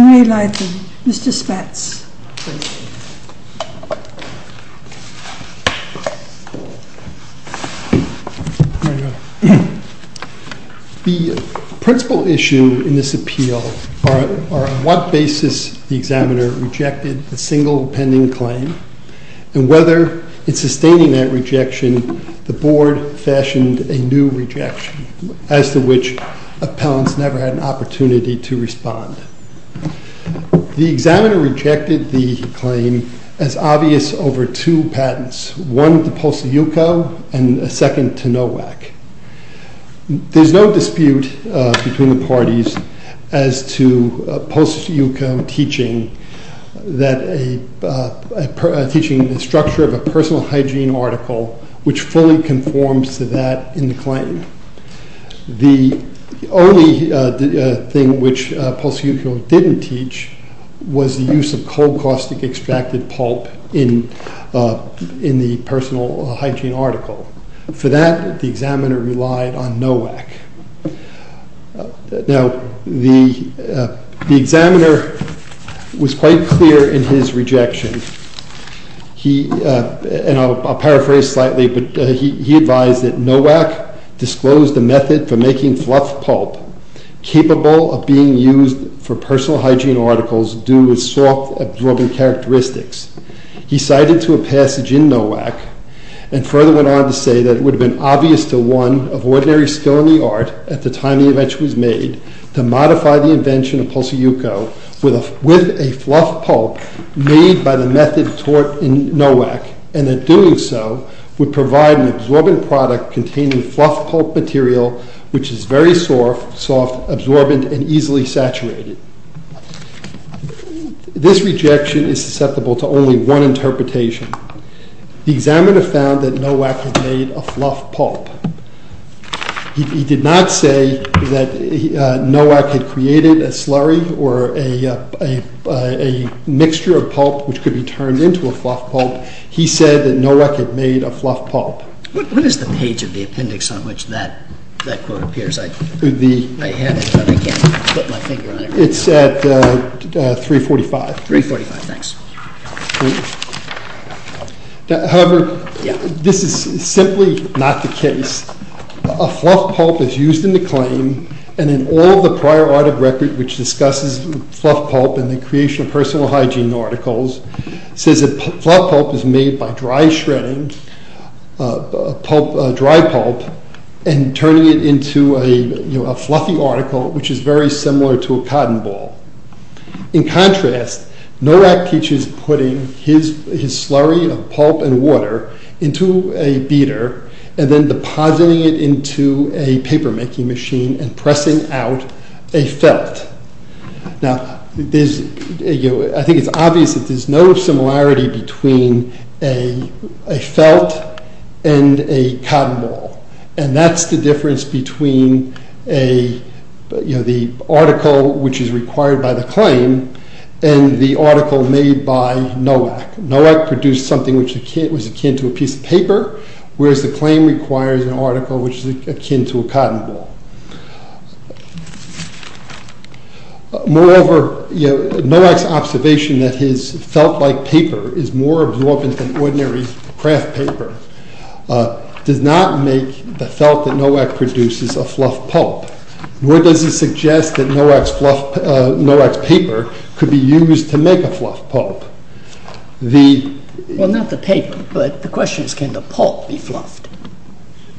MR. SPATZ. The principal issue in this appeal are on what basis the examiner rejected a single pending claim and whether in sustaining that rejection the board fashioned a new rejection as to which appellants never had an opportunity to respond. The examiner rejected the claim as obvious over two patents, one to POSIUCO and a second to NOAC. There's no dispute between the parties as to POSIUCO teaching the structure of a personal hygiene article which fully conforms to that in the claim. The only thing which POSIUCO didn't teach was the use of cold caustic extracted pulp in the personal hygiene article. For that, the examiner relied on NOAC. The examiner was quite clear in his rejection. He advised that NOAC disclosed a method for making fluff pulp capable of being used for personal hygiene articles due to its soft absorbing characteristics. He cited to a passage in NOAC and further went on to say that it would have been obvious to one of ordinary skill in the art at the time the invention was made to modify the invention of POSIUCO with a fluff pulp made by the method taught in NOAC and that doing so would provide an absorbent product containing fluff pulp material which is very soft, absorbent and easily saturated. This rejection is susceptible to only one interpretation. The examiner found that NOAC had made a fluff pulp. He did not say that NOAC had created a slurry or a mixture of pulp which could be turned into a fluff pulp. He said that NOAC had made a fluff pulp. What is the page of the appendix on which that quote appears? I have it but I can't put my finger on it. It's at 345. 345, thanks. However, this is simply not the case. A fluff pulp is used in the claim and in all of the prior art of record which discusses fluff pulp and the creation of personal hygiene articles says that fluff pulp is made by dry shredding, dry pulp and turning it into a fluffy article which is very similar to a cotton ball. In contrast, NOAC teaches putting his slurry of pulp and water into a beater and then depositing it into a paper making machine and pressing out a felt. I think it's obvious that there is no similarity between a felt and a cotton ball and that's the difference between the article which is required by the claim and the article made by NOAC. NOAC produced something which was akin to a piece of paper whereas the claim requires an article which is akin to a cotton ball. Moreover, NOAC's observation that his felt-like paper is more absorbent than ordinary craft paper does not make the felt that NOAC produces a fluff pulp nor does it suggest that NOAC's paper could be used to make a fluff pulp. Well, not the paper but the question is can the pulp be fluffed?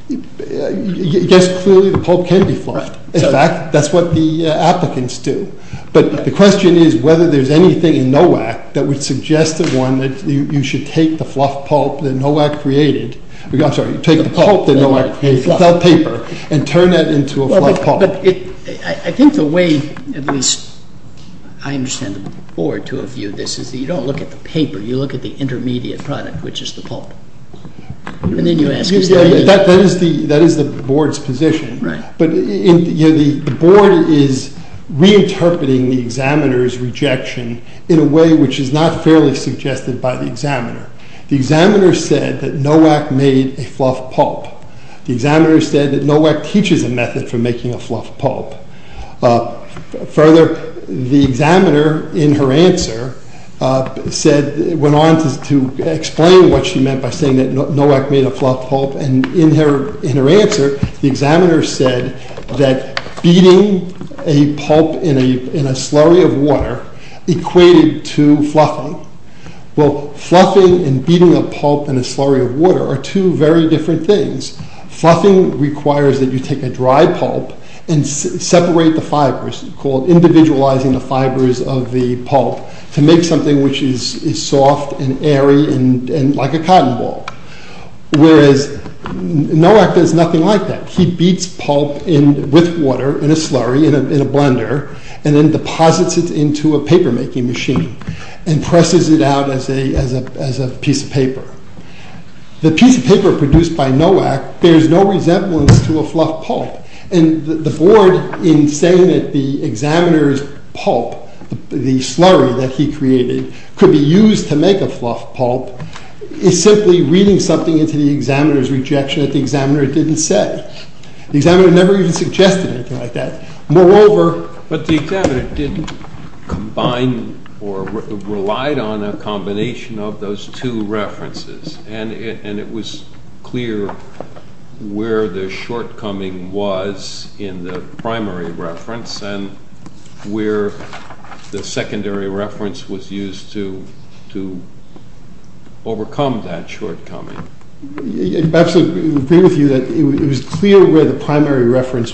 Yes, clearly the pulp can be fluffed. In fact, that's what the applicants do. But the question is whether there's anything in NOAC that would suggest to one that you should take the fluff pulp that NOAC created, I'm sorry, take the pulp that NOAC created, the felt paper, and turn that into a fluff pulp. I think the way, at least I understand the board to a view of this, is that you don't look at the paper, you look at the intermediate product which is the pulp. That is the board's position. But the board is reinterpreting the examiner's rejection in a way which is not fairly suggested by the examiner. The examiner said that NOAC made a fluff pulp. The examiner said that NOAC teaches a method for making a fluff pulp. Further, the examiner in her answer went on to explain what she meant by saying that NOAC made a fluff pulp. And in her answer, the examiner said that beating a pulp in a slurry of water equated to fluffing. Well, fluffing and beating a pulp in a slurry of water are two very different things. Fluffing requires that you take a dry pulp and separate the fibers called individualizing the fibers of the pulp to make something which is soft and airy and like a cotton ball. Whereas NOAC does nothing like that. He beats pulp with water in a slurry, in a blender, and then deposits it into a papermaking machine and presses it out as a piece of paper. The piece of paper produced by NOAC bears no resemblance to a fluff pulp. And the board, in saying that the examiner's pulp, the slurry that he created, could be used to make a fluff pulp, is simply reading something into the examiner's rejection that the examiner didn't say. The examiner never even suggested anything like that. But the examiner didn't combine or relied on a combination of those two references. And it was clear where the shortcoming was in the primary reference and where the secondary reference was used to overcome that shortcoming. I agree with you that it was clear where the primary reference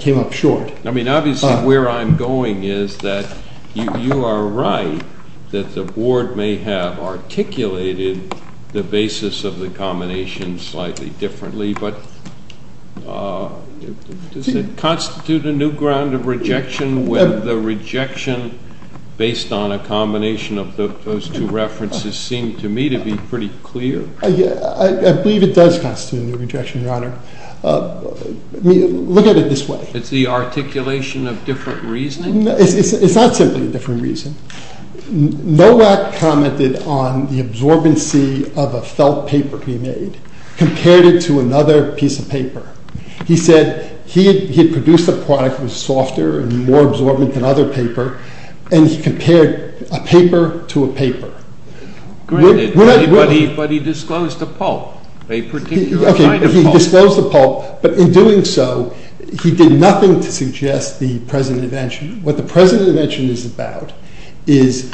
came up short. I mean, obviously where I'm going is that you are right that the board may have articulated the basis of the combination slightly differently, but does it constitute a new ground of rejection when the rejection based on a combination of those two references seemed to me to be pretty clear? I believe it does constitute a new ground of rejection, Your Honor. Look at it this way. It's the articulation of different reasoning? It's not simply a different reason. Nowak commented on the absorbency of a felt paper being made, compared it to another piece of paper. He said he had produced a product that was softer and more absorbent than other paper, and he compared a paper to a paper. But he disclosed the pulp, a particular kind of pulp. Okay, he disclosed the pulp, but in doing so, he did nothing to suggest the present invention. What he is about is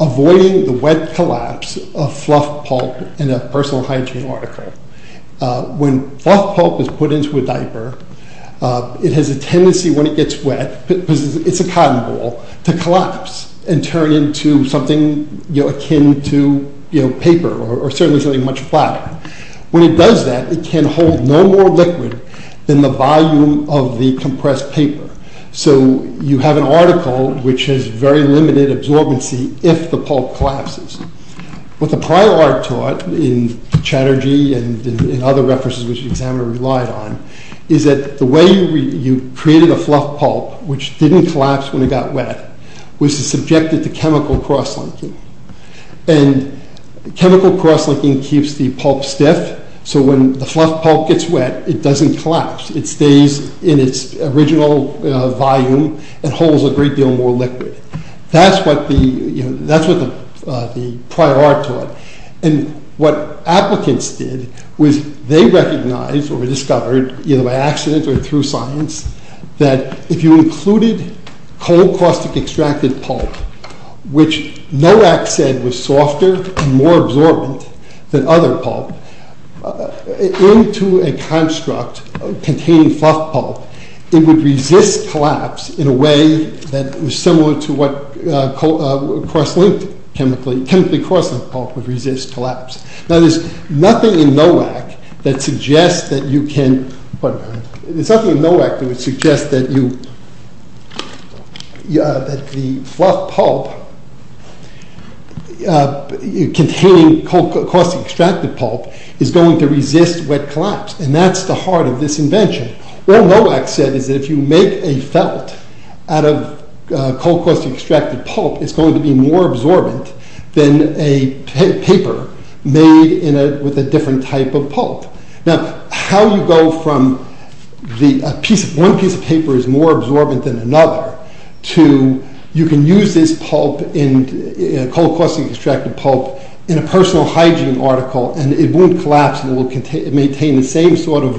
avoiding the wet collapse of fluff pulp in a personal hygiene article. When fluff pulp is put into a diaper, it has a tendency when it gets wet, because it's a cotton ball, to collapse and turn into something akin to paper or certainly something much flatter. When it does that, it can hold no more liquid than the volume of the compressed paper. So you have an article which has very limited absorbency if the pulp collapses. What the prior art taught in Chatterjee and in other references which the examiner relied on is that the way you created a fluff pulp which didn't collapse when it got wet was subjected to chemical crosslinking. And chemical crosslinking keeps the pulp stiff, so when the fluff pulp gets wet, it doesn't collapse. It stays in its original volume and holds a great deal more liquid. That's what the prior art taught. And what applicants did was they recognized or discovered, either by accident or through science, that if you included cold caustic extracted pulp, which NOAC said was softer and more absorbent than other pulp, into a construct containing fluff pulp, it would resist collapse in a way that was similar to what chemically crosslinked pulp would resist collapse. Now there's nothing in NOAC that would suggest that the fluff pulp containing cold caustic extracted pulp is going to resist wet collapse, and that's the heart of this invention. What NOAC said is that if you make a felt out of cold caustic extracted pulp, it's going to be more absorbent than a paper made with a different type of pulp. Now how you go from one piece of paper is more absorbent than another, to you can use this cold caustic extracted pulp in a personal hygiene article and it won't collapse and it will maintain the same sort of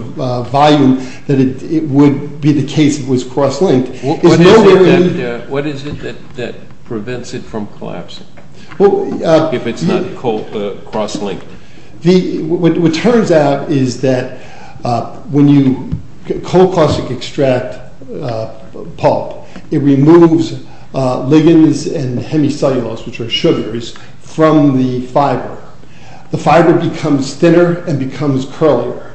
volume that it would be the case if it was crosslinked. What is it that prevents it from collapsing, if it's not crosslinked? What turns out is that when you cold caustic extract pulp, it removes ligands and hemicellulose, which are sugars, from the fiber. The fiber becomes thinner and becomes curlier,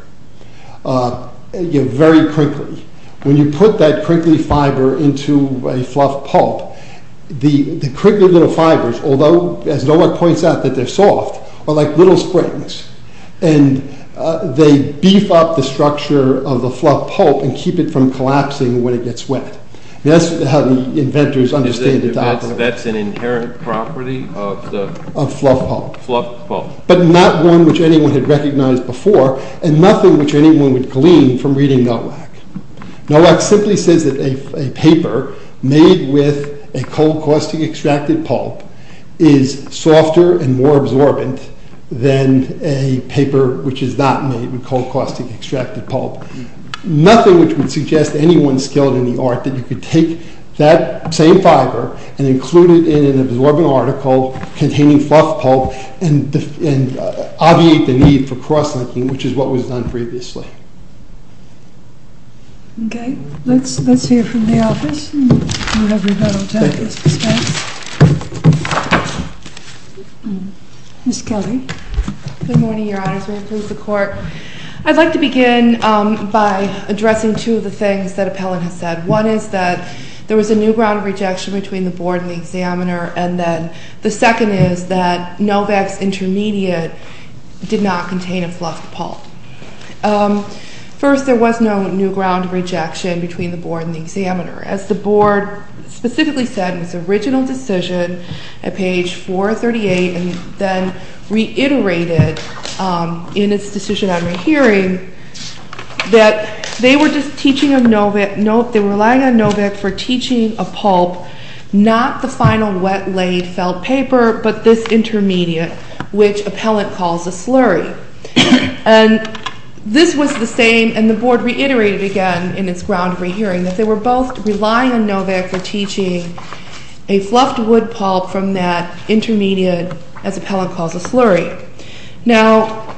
very crinkly. When you put that crinkly fiber into a fluff pulp, the crinkly little fibers, although as NOAC points out that they're soft, are like little springs, and they beef up the structure of the fluff pulp and keep it from collapsing when it gets wet. That's how the inventors understand it. That's an inherent property of the fluff pulp? Fluff pulp. But not one which anyone had recognized before and nothing which anyone would glean from reading NOAC. NOAC simply says that a paper made with a cold caustic extracted pulp is softer and more absorbent than a paper which is not made with cold caustic extracted pulp. Nothing which would suggest to anyone skilled in the art that you could take that same fiber and include it in an absorbent article containing fluff pulp and obviate the need for crosslinking, which is what was done previously. Okay. Let's hear from the office. Ms. Kelly. Good morning, your honors. May it please the court. I'd like to begin by addressing two of the things that appellant has said. One is that there was a new ground of rejection between the board and the examiner, and then the second is that NOVAC's intermediate did not contain a fluff pulp. First, there was no new ground of rejection between the board and the examiner. As the board specifically said in its original decision at page 438 and then reiterated in its decision on rehearing that they were relying on NOVAC for teaching a pulp, not the final wet-laid felt paper, but this intermediate, which appellant calls a slurry. And this was the same, and the board reiterated again in its ground of rehearing that they were both relying on NOVAC for teaching a fluffed wood pulp from that intermediate, as appellant calls a slurry. Now,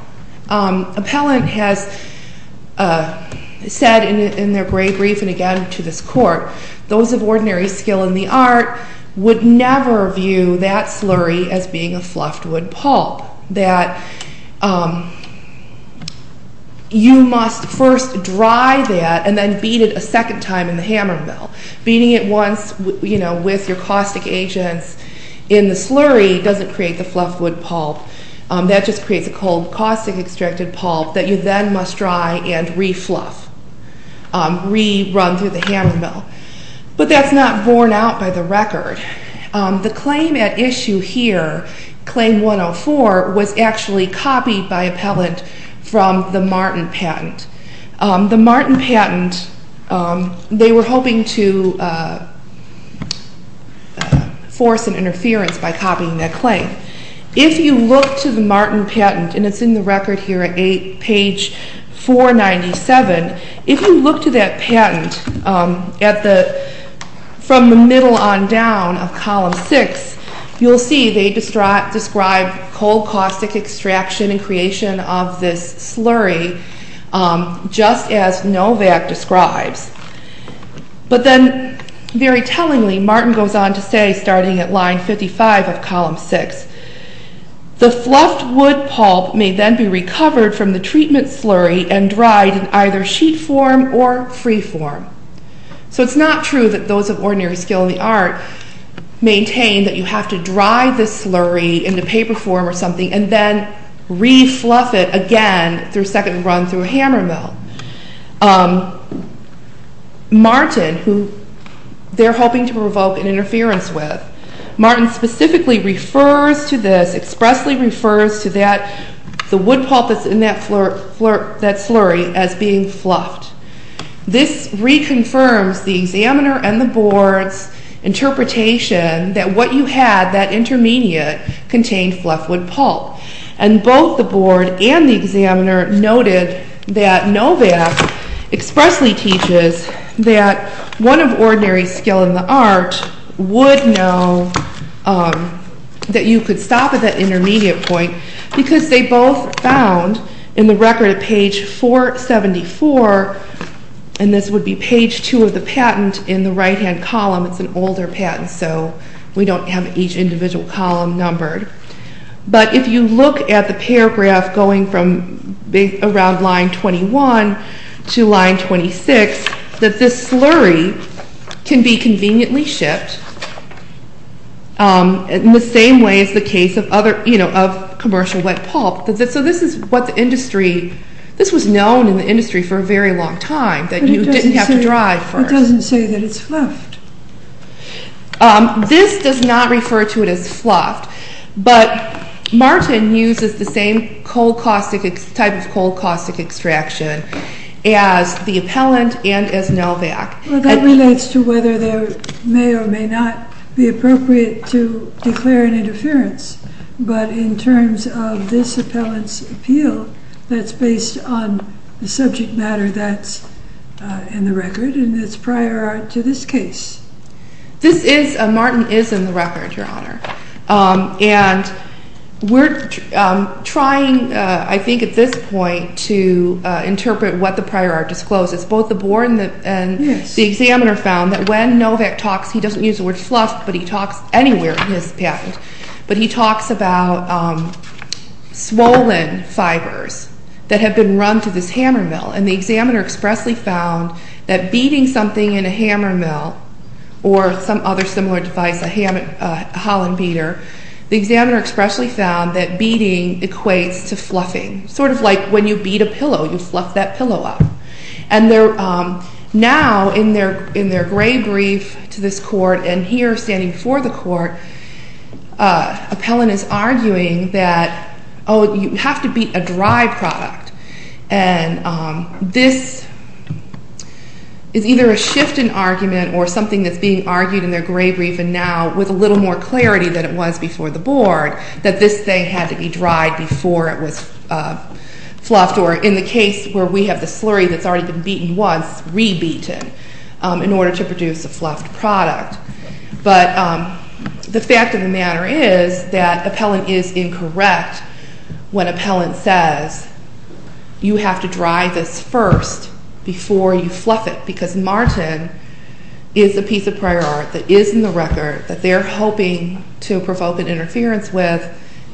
appellant has said in their brief and again to this court, those of ordinary skill in the art would never view that slurry as being a fluffed wood pulp, that you must first dry that and then beat it a second time in the hammer mill. Beating it once with your caustic agents in the slurry doesn't create the fluffed wood pulp, that just creates a cold caustic-extracted pulp that you then must dry and re-fluff, re-run through the hammer mill. But that's not borne out by the record. The claim at issue here, claim 104, was actually copied by appellant from the Martin patent. The Martin patent, they were hoping to force an interference by copying that claim. If you look to the Martin patent, and it's in the record here at page 497, if you look to that patent from the middle on down of column 6, you'll see they describe cold caustic extraction and creation of this slurry just as NOVAC describes. But then, very tellingly, Martin goes on to say, starting at line 55 of column 6, the fluffed wood pulp may then be recovered from the treatment slurry and dried in either sheet form or free form. So it's not true that those of ordinary skill in the art maintain that you have to dry the slurry in the paper form or something and then re-fluff it again through a second run through a hammer mill. Martin, who they're hoping to provoke an interference with, Martin specifically refers to this, expressly refers to that, the wood pulp that's in that slurry as being fluffed. This reconfirms the examiner and the board's interpretation that what you had, that intermediate, contained fluffed wood pulp. And both the board and the examiner noted that NOVAC expressly teaches that one of ordinary skill in the art would know that you could stop at that intermediate point because they both found in the record at page 474, and this would be page 2 of the patent in the right hand column, it's an older patent so we don't have each individual column numbered. But if you look at the paragraph going from around line 21 to line 26, that this slurry can be conveniently shipped in the same way as the case of commercial wet pulp. So this is what the industry, this was known in the industry for a very long time that you didn't have to dry it first. It doesn't say that it's fluffed. This does not refer to it as fluffed, but Martin uses the same type of cold caustic extraction as the appellant and as NOVAC. Well that relates to whether there may or may not be appropriate to declare an interference, but in terms of this appellant's appeal, that's based on the subject matter that's in the record and it's prior art to this case. This is, Martin is in the record, Your Honor, and we're trying I think at this point to interpret what the prior art discloses. Both the board and the examiner found that when NOVAC talks, he doesn't use the word fluffed, but he talks anywhere in his patent, but he talks about swollen fibers that have been run to this hammer mill. And the examiner expressly found that beating something in a hammer mill or some other similar device, a Holland beater, the examiner expressly found that beating equates to fluffing. Sort of like when you beat a pillow, you fluff that pillow up. And now in their gray brief to this court and here standing before the court, appellant is arguing that, oh, you have to beat a dry product. And this is either a shift in argument or something that's being argued in their gray brief and now with a little more clarity than it was before the board, that this thing had to be dried before it was fluffed, or in the case where we have the slurry that's already been beaten once, re-beaten in order to produce a fluffed product. But the fact of the matter is that appellant is incorrect when appellant says, you have to dry this first before you fluff it. Because Martin is a piece of prior art that is in the record that they're hoping to provoke an interference with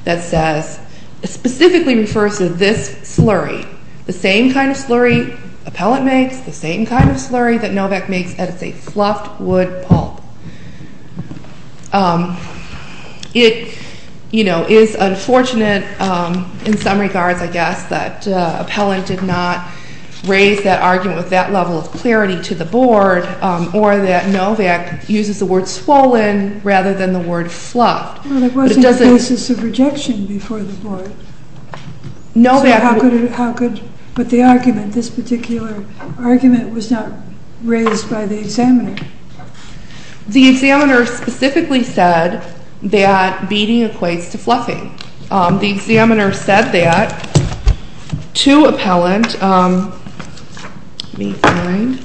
that says, specifically refers to this slurry. The same kind of slurry appellant makes, the same kind of slurry that Novak makes, and it's a fluffed wood pulp. It is unfortunate in some regards, I guess, that appellant did not raise that argument with that level of clarity to the board or that Novak uses the word swollen rather than the word fluffed. Well, there wasn't a basis of rejection before the board. So how could, with the argument, this particular argument was not raised by the examiner? The examiner specifically said that beating equates to fluffing. The examiner said that to appellant. Let me find.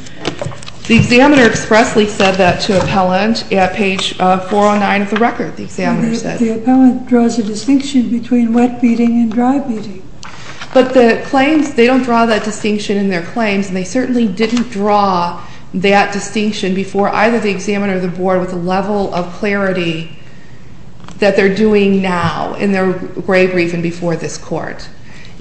The examiner expressly said that to appellant at page 409 of the record, the examiner said. The appellant draws a distinction between wet beating and dry beating. But the claims, they don't draw that distinction in their claims. And they certainly didn't draw that distinction before either the examiner or the board with the level of clarity that they're doing now in their graverief and before this court.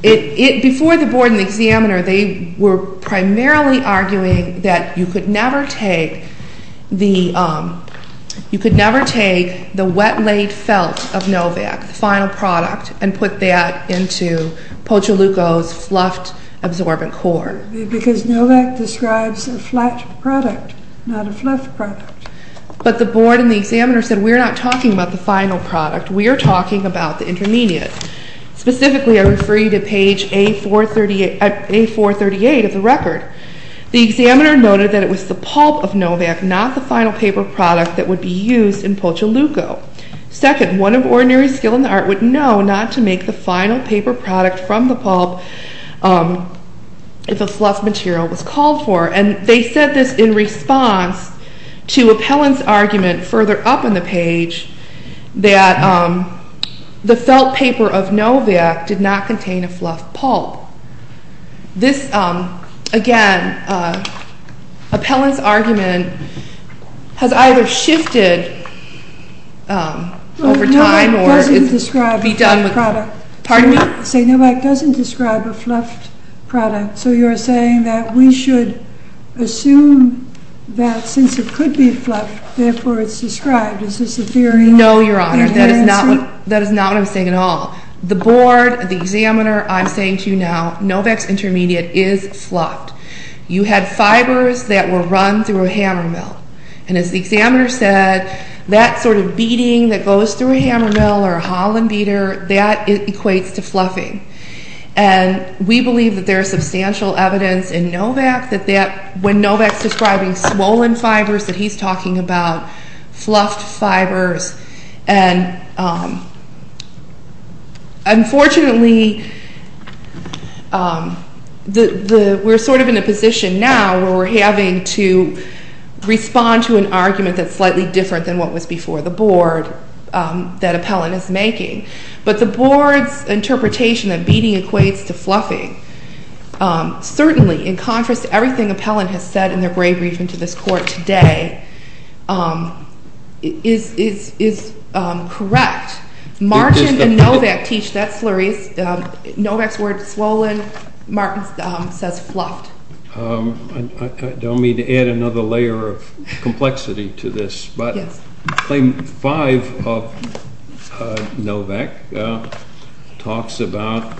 Before the board and the examiner, they were primarily arguing that you could never take the wet-laid felt of Novak, the final product, and put that into Pochaluko's fluffed absorbent core. Because Novak describes a flat product, not a fluffed product. But the board and the examiner said, we're not talking about the final product. We are talking about the intermediate. Specifically, I refer you to page A438 of the record. The examiner noted that it was the pulp of Novak, not the final paper product that would be used in Pochaluko. Second, one of ordinary skill in the art would know not to make the final paper product from the pulp if a fluffed material was called for. And they said this in response to Appellant's argument further up on the page that the felt paper of Novak did not contain a fluffed pulp. This, again, Appellant's argument has either shifted over time or be done with... Novak doesn't describe a fluffed product. Pardon me? Novak doesn't describe a fluffed product. So you're saying that we should assume that since it could be fluffed, therefore it's described. Is this a theory? No, Your Honor. That is not what I'm saying at all. The board, the examiner, I'm saying to you now, Novak's intermediate is fluffed. You had fibers that were run through a hammer mill. And as the examiner said, that sort of beating that goes through a hammer mill or a Holland beater, that equates to fluffing. And we believe that there is substantial evidence in Novak that when Novak's describing swollen fibers, that he's talking about fluffed fibers. And unfortunately, we're sort of in a position now where we're having to respond to an argument that's slightly different than what was before the board that Appellant is making. But the board's interpretation that beating equates to fluffing, certainly in contrast to everything Appellant has said in their brief briefing to this court today, is correct. Martin and Novak teach that slurry. Novak's word, swollen. Martin's says fluffed. I don't mean to add another layer of complexity to this. But claim five of Novak talks about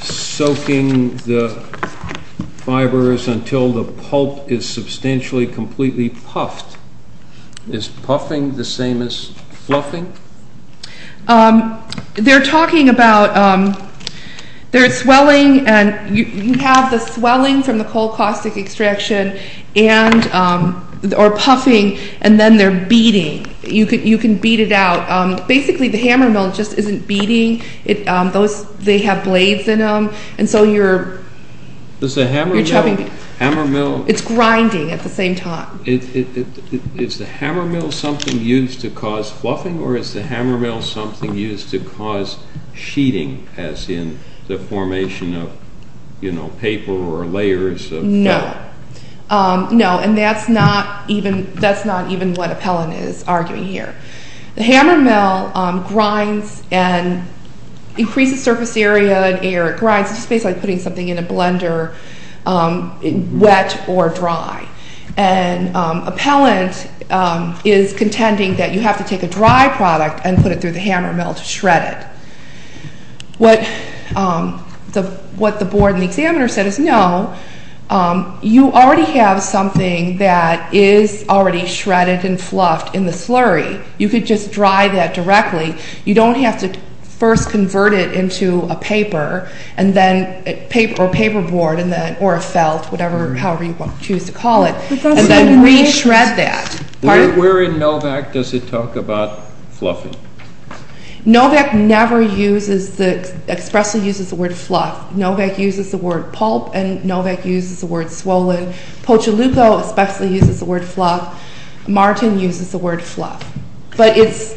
soaking the fibers until the pulp is substantially completely puffed. Is puffing the same as fluffing? They're talking about, there's swelling, and you have the swelling from the cold caustic extraction, or puffing, and then they're beating. You can beat it out. Basically, the hammer mill just isn't beating. They have blades in them. And so you're chugging. It's grinding at the same time. Is the hammer mill something used to cause fluffing, or is the hammer mill something used to cause sheeting, as in the formation of paper or layers of pellet? No. No, and that's not even what Appellant is arguing here. The hammer mill grinds and increases surface area and air it grinds. It's basically like putting something in a blender, wet or dry. And Appellant is contending that you have to take a dry product and put it through the hammer mill to shred it. What the board and the examiner said is no. You already have something that is already shredded and fluffed in the slurry. You could just dry that directly. You don't have to first convert it into a paper, or a paperboard, or a felt, or however you choose to call it, and then re-shred that. Where in Novak does it talk about fluffing? Novak never expressly uses the word fluff. Novak uses the word pulp, and Novak uses the word swollen. Pochaluko especially uses the word fluff. Martin uses the word fluff. But as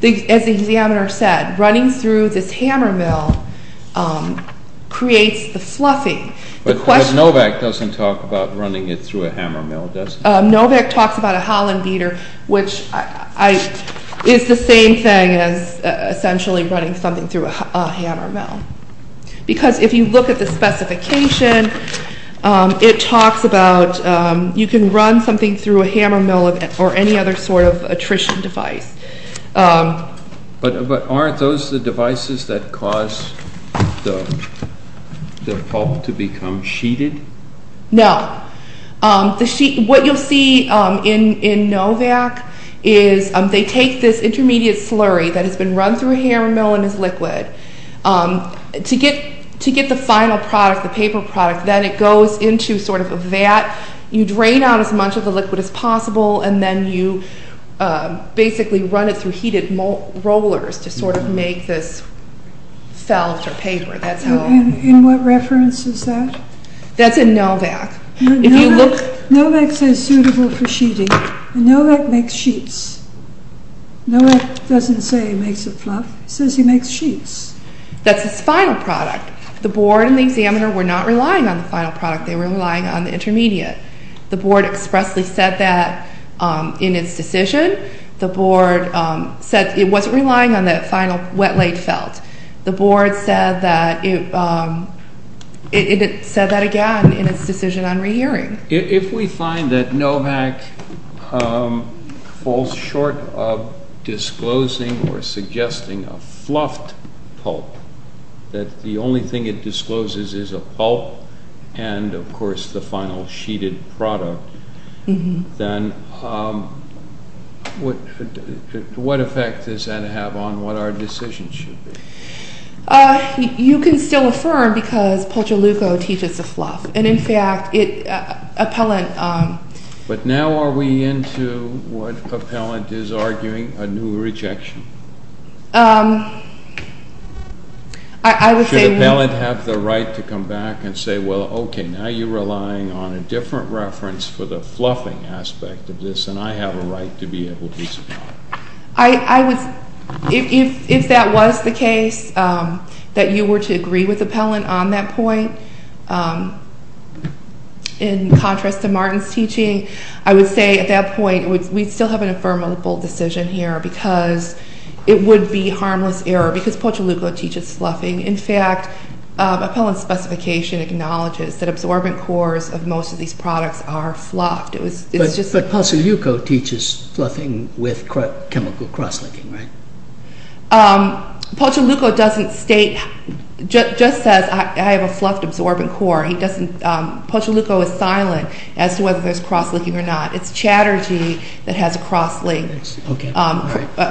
the examiner said, running through this hammer mill creates the fluffing. But Novak doesn't talk about running it through a hammer mill, does he? Novak talks about a holland beater, which is the same thing as essentially running something through a hammer mill. Because if you look at the specification, it talks about you can run something through a hammer mill or any other sort of attrition device. But aren't those the devices that cause the pulp to become sheeted? No. What you'll see in Novak is they take this intermediate slurry that has been run through a hammer mill and is liquid. To get the final product, the paper product, then it goes into sort of a vat. You drain out as much of the liquid as possible, and then you basically run it through heated rollers to sort of make this felt or paper. And what reference is that? That's in Novak. Novak says suitable for sheeting, and Novak makes sheets. Novak doesn't say he makes a fluff. He says he makes sheets. That's his final product. The board and the examiner were not relying on the final product. They were relying on the intermediate. The board expressly said that in its decision. The board said it wasn't relying on that final wet-laid felt. The board said that again in its decision on rehearing. If we find that Novak falls short of disclosing or suggesting a fluffed pulp, that the only thing it discloses is a pulp and, of course, the final sheeted product, then what effect does that have on what our decision should be? You can still affirm because Pulch-O-Luco teaches the fluff. And, in fact, Appellant— But now are we into what Appellant is arguing, a new rejection? I would say— Should Appellant have the right to come back and say, well, okay, now you're relying on a different reference for the fluffing aspect of this, and I have a right to be able to— If that was the case, that you were to agree with Appellant on that point, in contrast to Martin's teaching, I would say at that point we'd still have an affirmable decision here because it would be harmless error because Pulch-O-Luco teaches fluffing. In fact, Appellant's specification acknowledges that absorbent cores of most of these products are fluffed. But Pulch-O-Luco teaches fluffing with chemical cross-linking, right? Pulch-O-Luco doesn't state—just says I have a fluffed absorbent core. Pulch-O-Luco is silent as to whether there's cross-linking or not. It's Chatterjee that has a cross-linked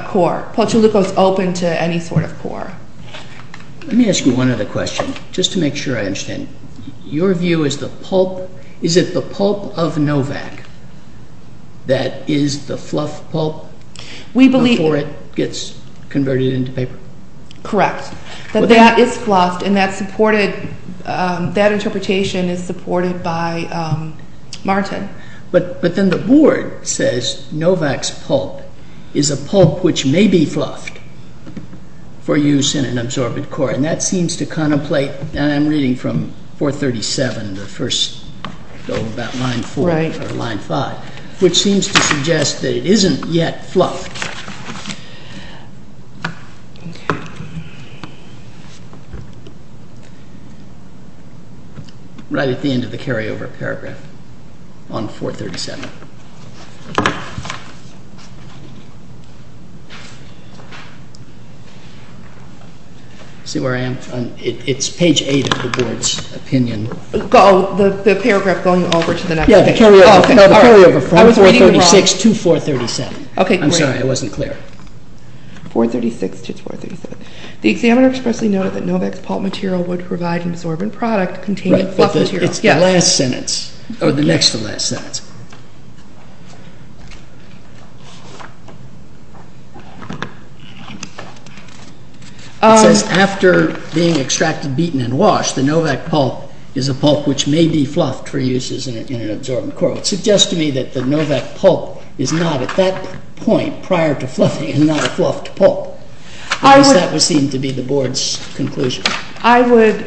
core. Pulch-O-Luco is open to any sort of core. Let me ask you one other question, just to make sure I understand. Your view is the pulp—is it the pulp of Novak that is the fluff pulp before it gets converted into paper? Correct. That that is fluffed, and that interpretation is supported by Martin. But then the board says Novak's pulp is a pulp which may be fluffed for use in an absorbent core, and that seems to contemplate—and I'm reading from 437, the first—go about line 4 or line 5, which seems to suggest that it isn't yet fluffed. Right at the end of the carryover paragraph on 437. See where I am? It's page 8 of the board's opinion. Oh, the paragraph going over to the next page. Yeah, the carryover from 436 to 437. I'm sorry, I wasn't clear. 436 to 437. The examiner expressly noted that Novak's pulp material would provide an absorbent product containing fluff material. It's the last sentence, or the next to last sentence. It says, after being extracted, beaten, and washed, the Novak pulp is a pulp which may be fluffed for use in an absorbent core. It suggests to me that the Novak pulp is not at that point prior to fluffing and not a fluffed pulp, because that was seen to be the board's conclusion. I would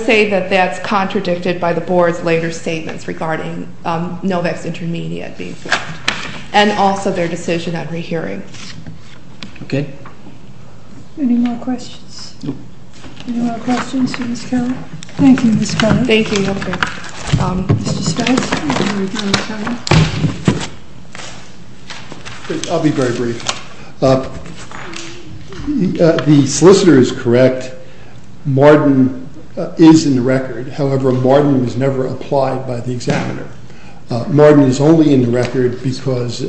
say that that's contradicted by the board's later statements regarding Novak's intermediate being fluffed, and also their decision on rehearing. Okay. Any more questions? Any more questions for Ms. Kelly? Thank you, Ms. Kelly. Thank you. I'll be very brief. The solicitor is correct. Marden is in the record. However, Marden was never applied by the examiner. Marden is only in the record because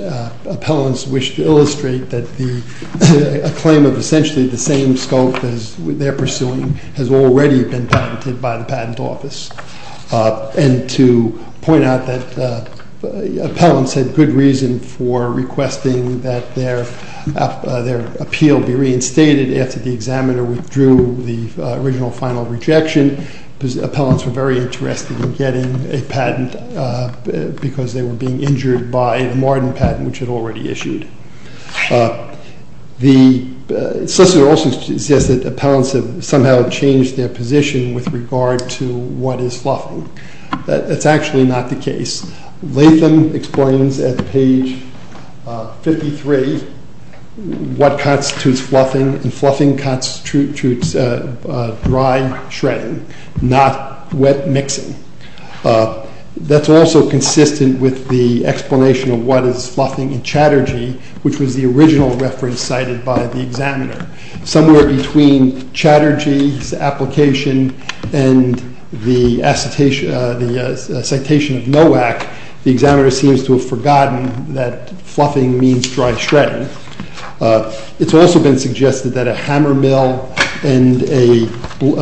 appellants wish to illustrate that a claim of essentially the same scope as they're pursuing has already been patented by the patent office. And to point out that appellants had good reason for requesting that their appeal be reinstated after the examiner withdrew the original final rejection, appellants were very interested in getting a patent because they were being injured by the Marden patent, which had already issued. The solicitor also suggests that appellants have somehow changed their position with regard to what is fluffing. That's actually not the case. Latham explains at page 53 what constitutes fluffing, and fluffing constitutes dry shredding, not wet mixing. That's also consistent with the explanation of what is fluffing in Chatterjee, which was the original reference cited by the examiner. Somewhere between Chatterjee's application and the citation of Nowak, the examiner seems to have forgotten that fluffing means dry shredding. It's also been suggested that a hammer mill and a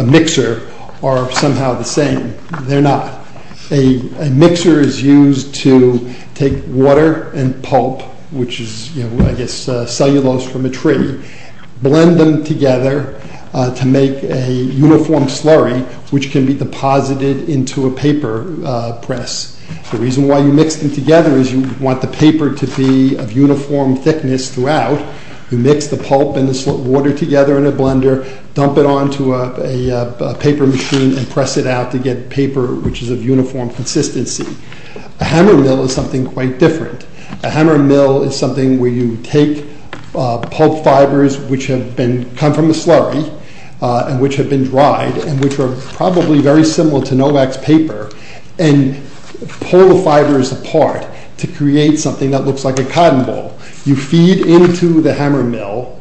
mixer are somehow the same. They're not. A mixer is used to take water and pulp, which is, I guess, cellulose from a tree, blend them together to make a uniform slurry, which can be deposited into a paper press. The reason why you mix them together is you want the paper to be of uniform thickness throughout. You mix the pulp and the water together in a blender, dump it onto a paper machine, and press it out to get paper which is of uniform consistency. A hammer mill is something quite different. A hammer mill is something where you take pulp fibers which have come from the slurry and which have been dried, and which are probably very similar to Nowak's paper, and pull the fibers apart to create something that looks like a cotton ball. You feed into the hammer mill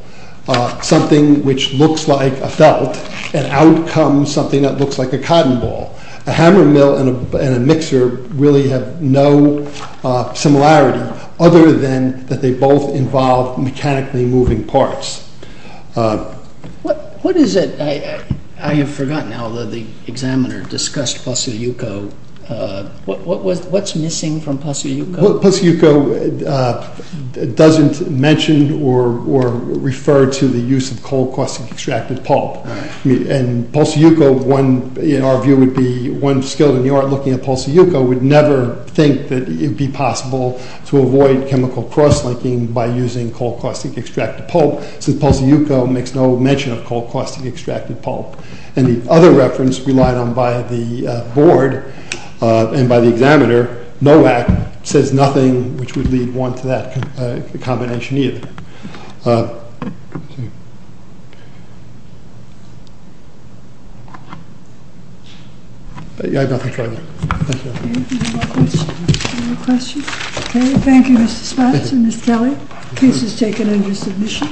something which looks like a felt, and out comes something that looks like a cotton ball. A hammer mill and a mixer really have no similarity, other than that they both involve mechanically moving parts. What is it, I have forgotten now, that the examiner discussed Posseuilhiko. What's missing from Posseuilhiko? Posseuilhiko doesn't mention or refer to the use of cold caustic extracted pulp. In our view, one skilled in the art looking at Posseuilhiko would never think that it would be possible to avoid chemical crosslinking by using cold caustic extracted pulp, since Posseuilhiko makes no mention of cold caustic extracted pulp. And the other reference relied on by the board and by the examiner, Nowak, says nothing which would lead one to that combination either. I have nothing further. Any more questions? Thank you, Mr. Spatz and Ms. Kelly. The case is taken under submission.